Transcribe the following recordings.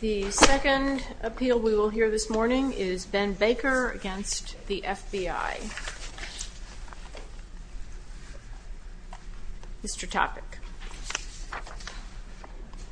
The second appeal we will hear this morning is Ben Baker v. FBI. Mr. Topic.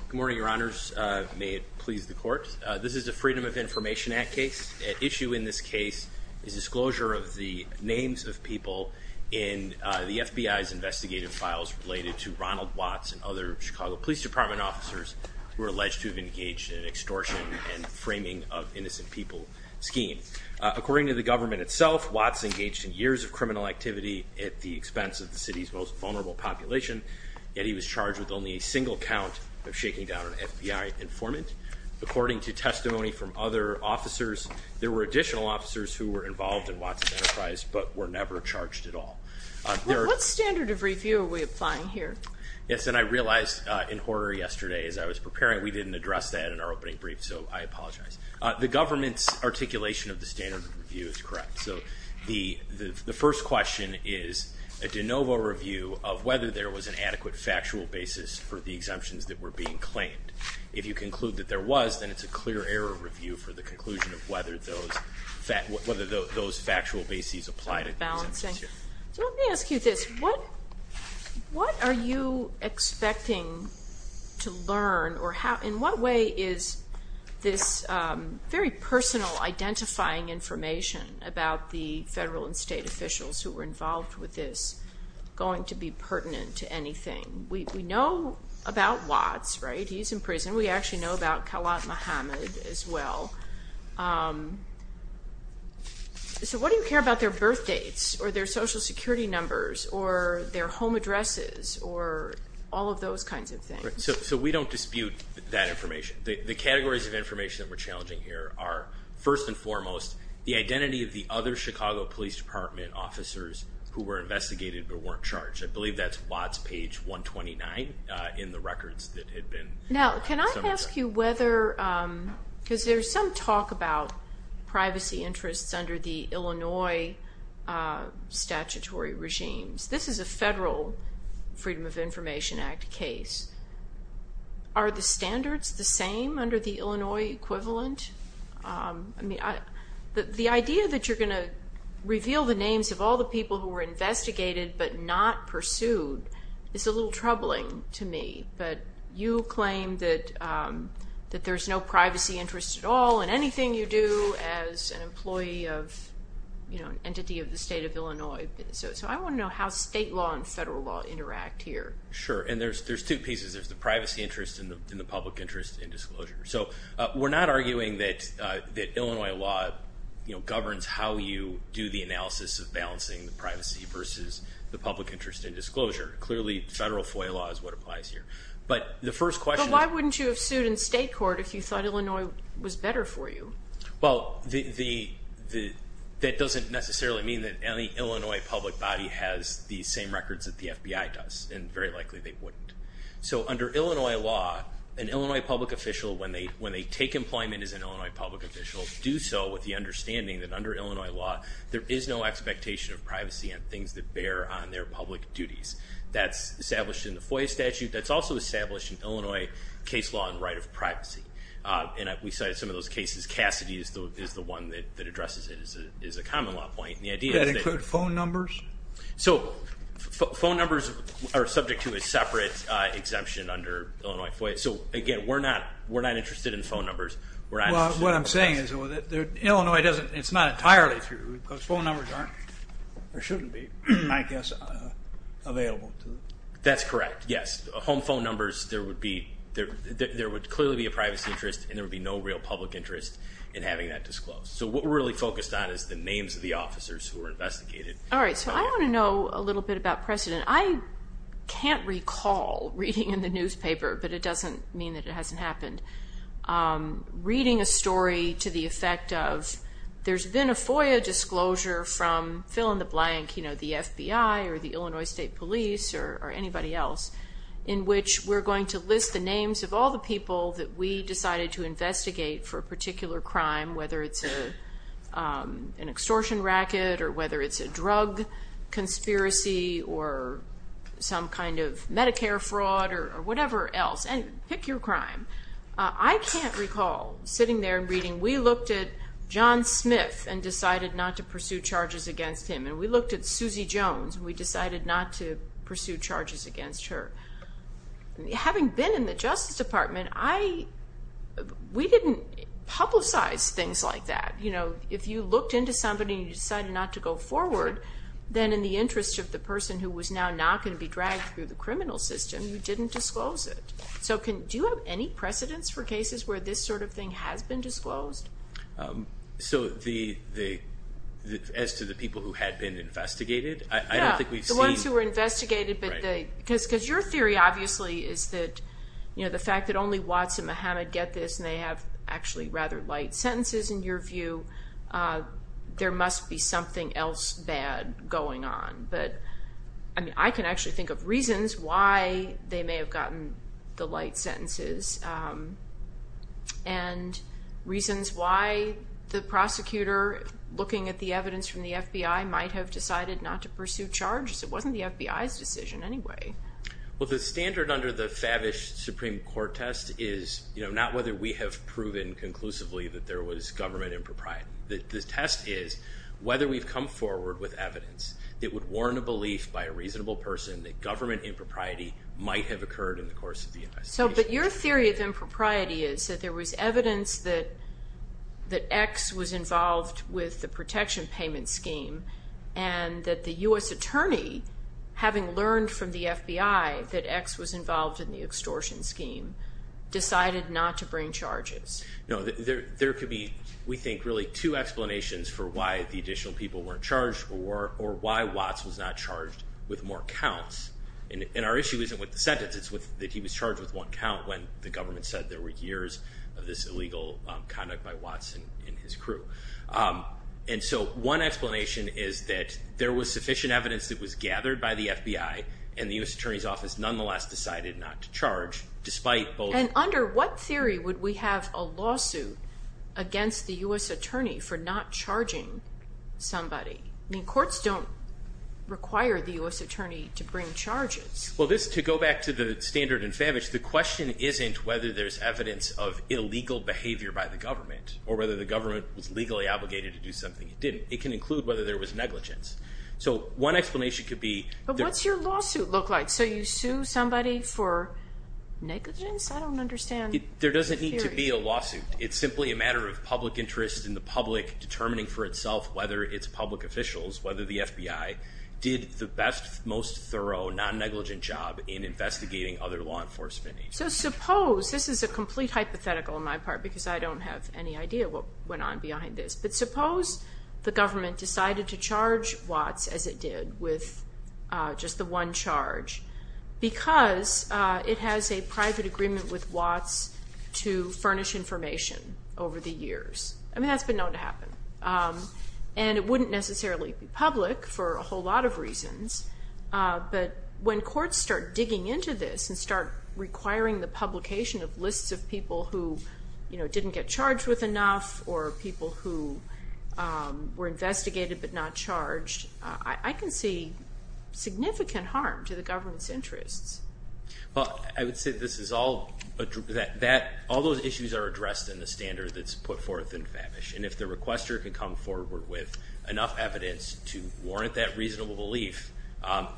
Good morning, Your Honors. May it please the Court. This is a Freedom of Information Act case. At issue in this case is disclosure of the names of people in the FBI's investigative files related to Ronald Watts and other Chicago Police Department officers who are alleged to have engaged in an extortion and framing of innocent people scheme. According to the government itself, Watts engaged in years of criminal activity at the expense of the city's most vulnerable population, yet he was charged with only a single count of shaking down an FBI informant. According to testimony from other officers, there were additional officers who were involved in Watts' enterprise but were never charged at all. What standard of review are we applying here? Yes, and I realized in horror yesterday as I was preparing, we didn't address that in our opening brief, so I apologize. The government's articulation of the standard of review is correct. So the first question is a de novo review of whether there was an adequate factual basis for the exemptions that were being claimed. If you conclude that there was, then it's a clear error review for the conclusion of whether those factual bases apply to the exemptions here. So let me ask you this, what are you expecting to learn or in what way is this very personal identifying information about the federal and state officials who were involved with this going to be pertinent to anything? We know about Watts, right? He's in prison. We actually know about Khalat Mohamed as well. So what do you care about their birth dates or their social security numbers or their home addresses or all of those kinds of things? So we don't dispute that information. The categories of information that we're challenging here are, first and foremost, the identity of the other Chicago Police Department officers who were investigated but weren't charged. I believe that's Watts page 129 in the records that had been submitted. Now, can I ask you whether, because there's some talk about privacy interests under the Illinois statutory regimes. This is a federal Freedom of Information Act case. Are the standards the same under the Illinois equivalent? I mean, the idea that you're going to reveal the names of all the people who were investigated but not pursued is a little troubling to me. But you claim that there's no privacy interest at all in anything you do as an employee of an entity of the state of Illinois. So I want to know how state law and federal law interact here. Sure, and there's two pieces. There's the privacy interest and the public interest in disclosure. So we're not arguing that Illinois law governs how you do the analysis of balancing the privacy versus the public interest in disclosure. Clearly, federal FOIA law is what applies here. But the first question is... But why wouldn't you have sued in state court if you thought Illinois was better for you? Well, that doesn't necessarily mean that any Illinois public body has the same records that the FBI does, and very likely they wouldn't. So under Illinois law, an Illinois public official, when they take employment as an Illinois public official, do so with the understanding that under Illinois law there is no expectation of privacy on things that bear on their public duties. That's established in the FOIA statute. That's also established in Illinois case law and right of privacy. And we cited some of those cases. Cassidy is the one that addresses it as a common law point. Does that include phone numbers? So phone numbers are subject to a separate exemption under Illinois FOIA. So, again, we're not interested in phone numbers. What I'm saying is Illinois doesn't, it's not entirely true because phone numbers aren't or shouldn't be, I guess, available. That's correct, yes. Home phone numbers, there would clearly be a privacy interest and there would be no real public interest in having that disclosed. So what we're really focused on is the names of the officers who were investigated. All right, so I want to know a little bit about precedent. I can't recall reading in the newspaper, but it doesn't mean that it hasn't happened. Reading a story to the effect of there's been a FOIA disclosure from fill in the blank, you know, the FBI or the Illinois State Police or anybody else, in which we're going to list the names of all the people that we decided to investigate for a particular crime, whether it's an extortion racket or whether it's a drug conspiracy or some kind of Medicare fraud or whatever else. And pick your crime. I can't recall sitting there and reading, we looked at John Smith and decided not to pursue charges against him, and we looked at Susie Jones and we decided not to pursue charges against her. Having been in the Justice Department, we didn't publicize things like that. You know, if you looked into somebody and you decided not to go forward, then in the interest of the person who was now not going to be dragged through the criminal system, you didn't disclose it. So do you have any precedents for cases where this sort of thing has been disclosed? So as to the people who had been investigated? Yeah, the ones who were investigated. Because your theory, obviously, is that the fact that only Watts and Muhammad get this and they have actually rather light sentences, in your view, there must be something else bad going on. But, I mean, I can actually think of reasons why they may have gotten the light sentences and reasons why the prosecutor, looking at the evidence from the FBI, might have decided not to pursue charges. It wasn't the FBI's decision anyway. Well, the standard under the Favish Supreme Court test is, you know, not whether we have proven conclusively that there was government impropriety. The test is whether we've come forward with evidence that would warn a belief by a reasonable person that government impropriety might have occurred in the course of the investigation. But your theory of impropriety is that there was evidence that X was involved with the protection payment scheme and that the U.S. attorney, having learned from the FBI that X was involved in the extortion scheme, decided not to bring charges. No, there could be, we think, really two explanations for why the additional people weren't charged or why Watts was not charged with more counts. And our issue isn't with the sentence, it's that he was charged with one count when the government said there were years of this illegal conduct by Watts and his crew. And so one explanation is that there was sufficient evidence that was gathered by the FBI and the U.S. attorney's office nonetheless decided not to charge, despite both... And under what theory would we have a lawsuit against the U.S. attorney for not charging somebody? I mean, courts don't require the U.S. attorney to bring charges. Well, to go back to the standard and Favich, the question isn't whether there's evidence of illegal behavior by the government or whether the government was legally obligated to do something. It didn't. It can include whether there was negligence. So one explanation could be... But what's your lawsuit look like? So you sue somebody for negligence? I don't understand. There doesn't need to be a lawsuit. It's simply a matter of public interest in the public determining for itself whether its public officials, whether the FBI, did the best, most thorough, non-negligent job in investigating other law enforcement agencies. So suppose, this is a complete hypothetical on my part because I don't have any idea what went on behind this, but suppose the government decided to charge Watts, as it did, with just the one charge because it has a private agreement with Watts to furnish information over the years. I mean, that's been known to happen. And it wouldn't necessarily be public for a whole lot of reasons, but when courts start digging into this and start requiring the publication of lists of people who didn't get charged with enough or people who were investigated but not charged, I can see significant harm to the government's interests. Well, I would say that all those issues are addressed in the standard that's put forth in FABISH. And if the requester can come forward with enough evidence to warrant that reasonable belief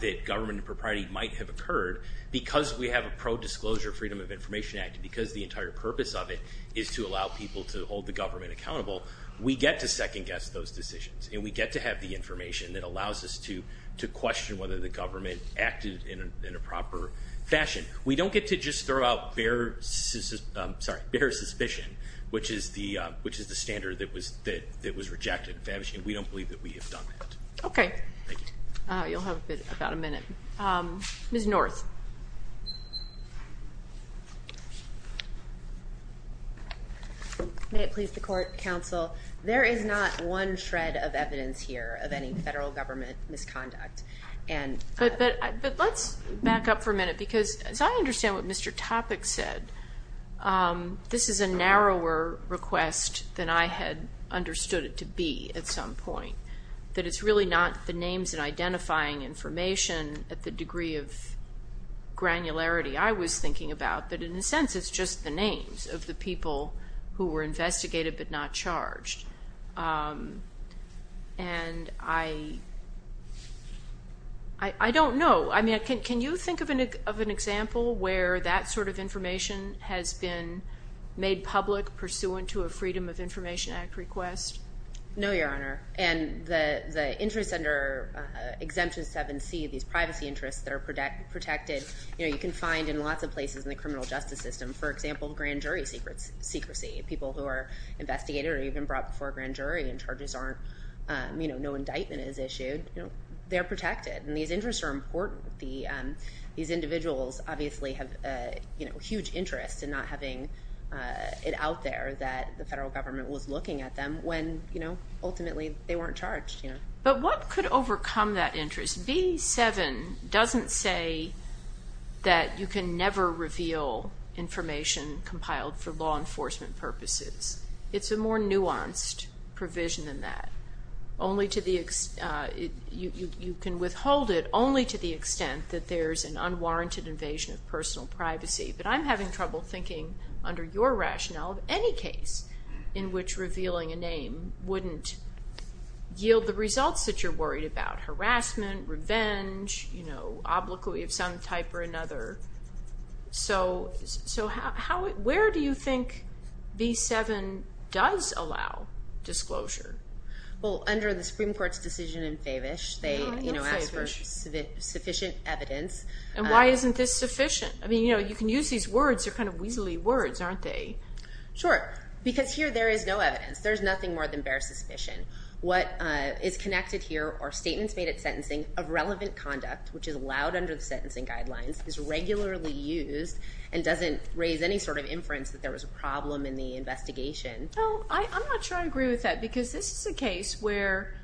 that government propriety might have occurred because we have a pro-disclosure Freedom of Information Act because the entire purpose of it is to allow people to hold the government accountable, we get to second-guess those decisions. And we get to have the information that allows us to question whether the government acted in a proper fashion. We don't get to just throw out bare suspicion, which is the standard that was rejected. We don't believe that we have done that. Okay. Thank you. You'll have about a minute. Ms. North. May it please the Court, Counsel, there is not one shred of evidence here of any federal government misconduct. But let's back up for a minute because, as I understand what Mr. Topic said, this is a narrower request than I had understood it to be at some point, that it's really not the names and identifying information at the degree of granularity I was thinking about, but in a sense it's just the names of the people who were investigated but not charged. And I don't know. I mean, can you think of an example where that sort of information has been made public pursuant to a Freedom of Information Act request? No, Your Honor. And the interests under Exemption 7C, these privacy interests that are protected, you can find in lots of places in the criminal justice system. For example, grand jury secrecy. People who are investigated or even brought before a grand jury and charges aren't, no indictment is issued, they're protected. And these interests are important. These individuals obviously have huge interests in not having it out there that the federal government was looking at them when ultimately they weren't charged. But what could overcome that interest? B-7 doesn't say that you can never reveal information compiled for law enforcement purposes. It's a more nuanced provision than that. You can withhold it only to the extent that there's an unwarranted invasion of personal privacy. But I'm having trouble thinking under your rationale of any case in which revealing a name wouldn't yield the results that you're worried about, harassment, revenge, obliquity of some type or another. So where do you think B-7 does allow disclosure? Well, under the Supreme Court's decision in Favish, they asked for sufficient evidence. And why isn't this sufficient? I mean, you can use these words, they're kind of weaselly words, aren't they? Sure, because here there is no evidence. There's nothing more than bare suspicion. What is connected here are statements made at sentencing of relevant conduct, which is allowed under the sentencing guidelines, is regularly used, and doesn't raise any sort of inference that there was a problem in the investigation. Well, I'm not sure I agree with that because this is a case where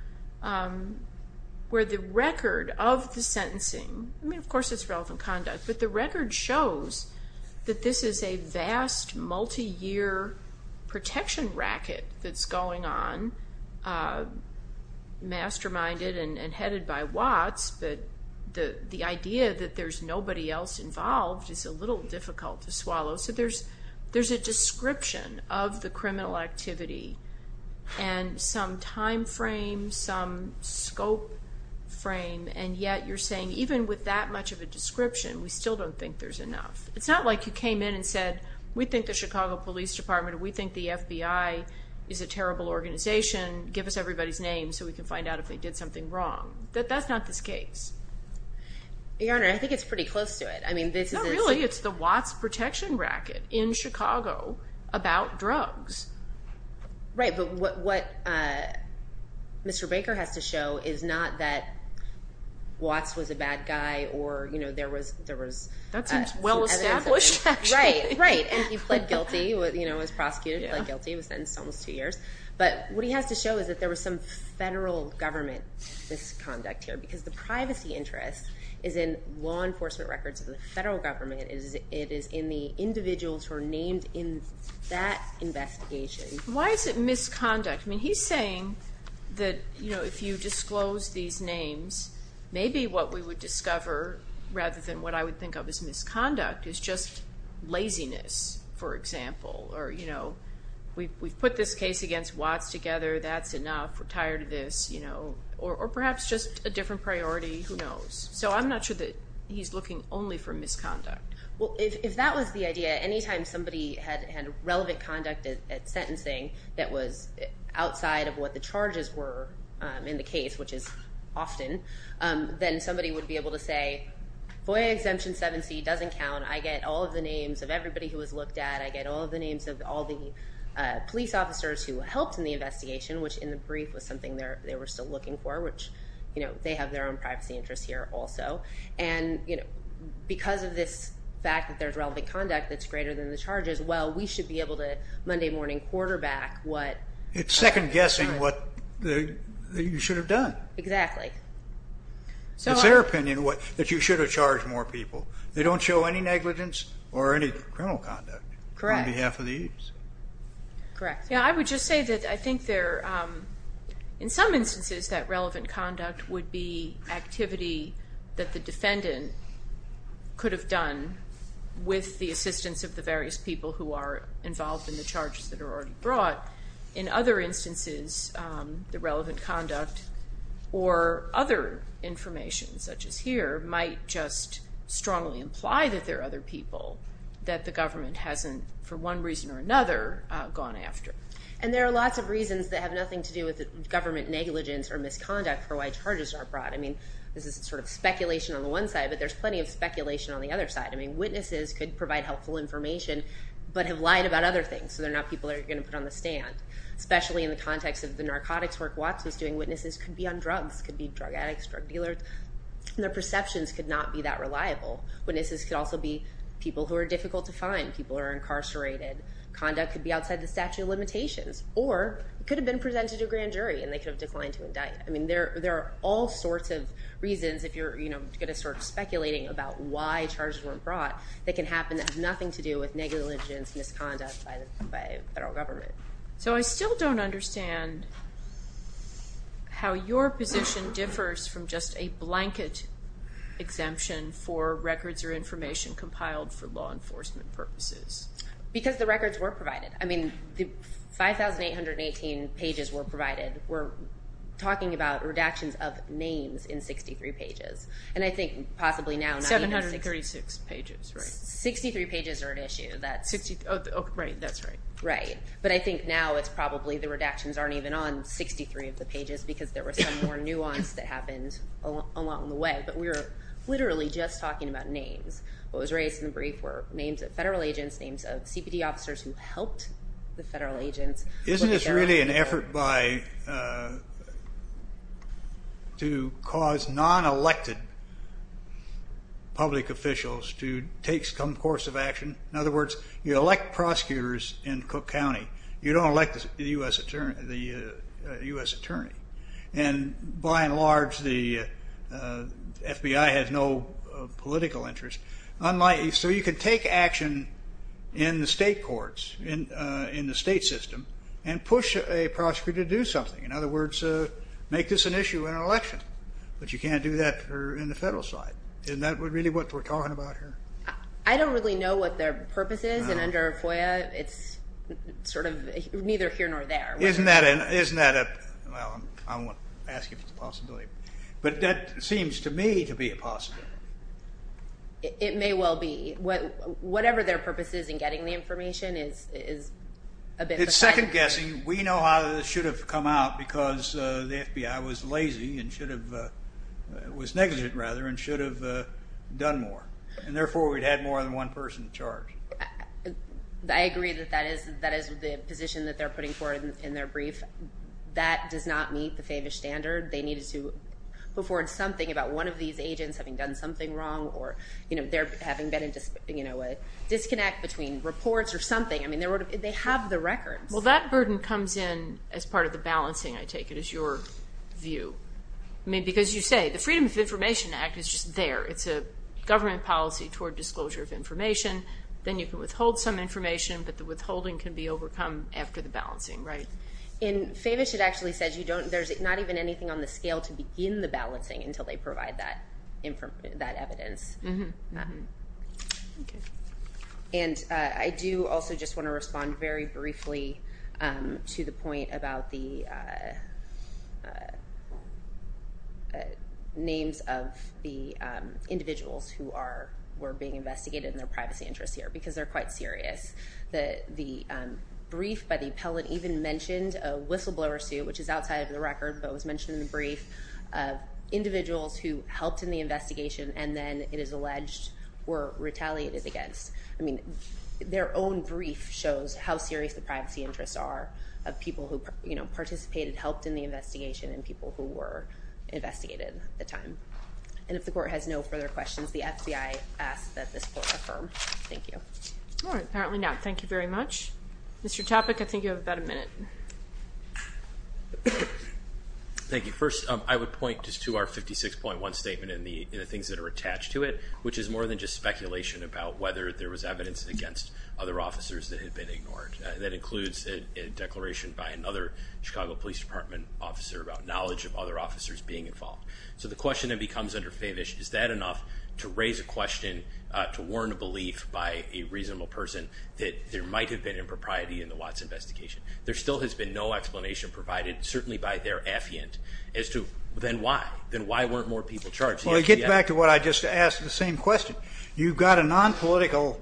the record of the sentencing, I mean, of course it's relevant conduct, but the record shows that this is a vast, multi-year protection racket that's going on, masterminded and headed by Watts, but the idea that there's nobody else involved is a little difficult to swallow. So there's a description of the criminal activity and some time frame, some scope frame, and yet you're saying even with that much of a description, we still don't think there's enough. It's not like you came in and said, we think the Chicago Police Department, we think the FBI is a terrible organization. Give us everybody's names so we can find out if they did something wrong. That's not this case. Your Honor, I think it's pretty close to it. I mean, this is a— Not really. It's the Watts protection racket in Chicago about drugs. Right, but what Mr. Baker has to show is not that Watts was a bad guy or there was— That seems well established, actually. Right, right, and he pled guilty. He was prosecuted and pled guilty. He was sentenced to almost two years. But what he has to show is that there was some federal government misconduct here because the privacy interest is in law enforcement records of the federal government. It is in the individuals who are named in that investigation. Why is it misconduct? I mean, he's saying that, you know, if you disclose these names, maybe what we would discover rather than what I would think of as misconduct is just laziness, for example. Or, you know, we've put this case against Watts together. That's enough. We're tired of this, you know. Or perhaps just a different priority. Who knows? So I'm not sure that he's looking only for misconduct. Well, if that was the idea, anytime somebody had relevant conduct at sentencing that was outside of what the charges were in the case, which is often, then somebody would be able to say, FOIA Exemption 7C doesn't count. I get all of the names of everybody who was looked at. I get all of the names of all the police officers who helped in the investigation, which in the brief was something they were still looking for, which, you know, they have their own privacy interests here also. And, you know, because of this fact that there's relevant conduct that's greater than the charges, well, we should be able to Monday morning quarterback what. It's second guessing what you should have done. Exactly. It's their opinion that you should have charged more people. They don't show any negligence or any criminal conduct. Correct. On behalf of the agency. Correct. Yeah, I would just say that I think there, in some instances, that relevant conduct would be activity that the defendant could have done with the assistance of the various people who are involved in the charges that are already brought. In other instances, the relevant conduct or other information, such as here, might just strongly imply that there are other people that the government hasn't, for one reason or another, gone after. And there are lots of reasons that have nothing to do with government negligence or misconduct for why charges are brought. I mean, this is sort of speculation on the one side, but there's plenty of speculation on the other side. I mean, witnesses could provide helpful information but have lied about other things, so they're not people that you're going to put on the stand, especially in the context of the narcotics work Watts was doing. Witnesses could be on drugs, could be drug addicts, drug dealers. Witnesses could also be people who are difficult to find, people who are incarcerated. Conduct could be outside the statute of limitations, or it could have been presented to a grand jury and they could have declined to indict. I mean, there are all sorts of reasons, if you're going to start speculating about why charges weren't brought, that can happen that have nothing to do with negligence, misconduct by the federal government. So I still don't understand how your position differs from just a blanket exemption for records or information compiled for law enforcement purposes. Because the records were provided. I mean, the 5,818 pages were provided. We're talking about redactions of names in 63 pages. And I think possibly now... 736 pages, right? 63 pages are at issue. Right, that's right. Right. But I think now it's probably the redactions aren't even on 63 of the pages because there was some more nuance that happened along the way. But we were literally just talking about names. What was raised in the brief were names of federal agents, names of CPD officers who helped the federal agents. Isn't this really an effort to cause non-elected public officials to take some course of action? In other words, you elect prosecutors in Cook County. You don't elect the U.S. attorney. And by and large, the FBI has no political interest. So you can take action in the state courts, in the state system, and push a prosecutor to do something. In other words, make this an issue in an election. But you can't do that in the federal side. Isn't that really what we're talking about here? I don't really know what their purpose is. And under FOIA, it's sort of neither here nor there. Isn't that a – well, I won't ask you for the possibility. But that seems to me to be a possibility. It may well be. Whatever their purpose is in getting the information is a bit of a – It's second-guessing. We know how this should have come out because the FBI was lazy and should have – was negligent, rather, and should have done more. And therefore, we'd had more than one person in charge. I agree that that is the position that they're putting forward in their brief. That does not meet the FAVISH standard. They needed to put forward something about one of these agents having done something wrong or their having been in a disconnect between reports or something. I mean, they have the records. Well, that burden comes in as part of the balancing, I take it, is your view. I mean, because you say the Freedom of Information Act is just there. It's a government policy toward disclosure of information. Then you can withhold some information, but the withholding can be overcome after the balancing, right? In FAVISH, it actually says you don't – there's not even anything on the scale to begin the balancing until they provide that evidence. Mm-hmm. Okay. And I do also just want to respond very briefly to the point about the names of the individuals who were being investigated and their privacy interests here because they're quite serious. The brief by the appellate even mentioned a whistleblower suit, which is outside of the record, but was mentioned in the brief, of individuals who helped in the investigation and then it is alleged were retaliated against. I mean, their own brief shows how serious the privacy interests are of people who participated, helped in the investigation, and people who were investigated at the time. And if the Court has no further questions, the FBI asks that this Court affirm. Thank you. All right. Apparently not. Thank you very much. Mr. Topic, I think you have about a minute. Thank you. First, I would point just to our 56.1 statement and the things that are attached to it, which is more than just speculation about whether there was evidence against other officers that had been ignored. That includes a declaration by another Chicago Police Department officer about knowledge of other officers being involved. So the question then becomes under Favish, is that enough to raise a question to warn a belief by a reasonable person that there might have been impropriety in the Watts investigation? There still has been no explanation provided, certainly by their affiant, as to then why? Then why weren't more people charged? Well, it gets back to what I just asked, the same question. You've got a nonpolitical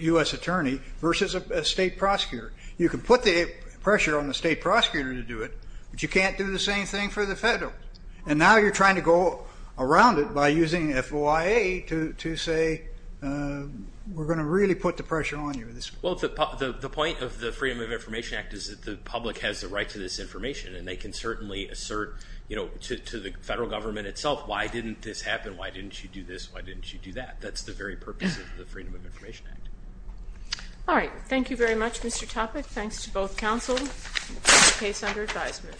U.S. attorney versus a state prosecutor. You can put the pressure on the state prosecutor to do it, but you can't do the same thing for the federal. And now you're trying to go around it by using FOIA to say we're going to really put the pressure on you. Well, the point of the Freedom of Information Act is that the public has the right to this information, and they can certainly assert to the federal government itself, why didn't this happen, why didn't you do this, why didn't you do that? That's the very purpose of the Freedom of Information Act. All right. Thank you very much, Mr. Topic. Thanks to both counsel. Case under advisement.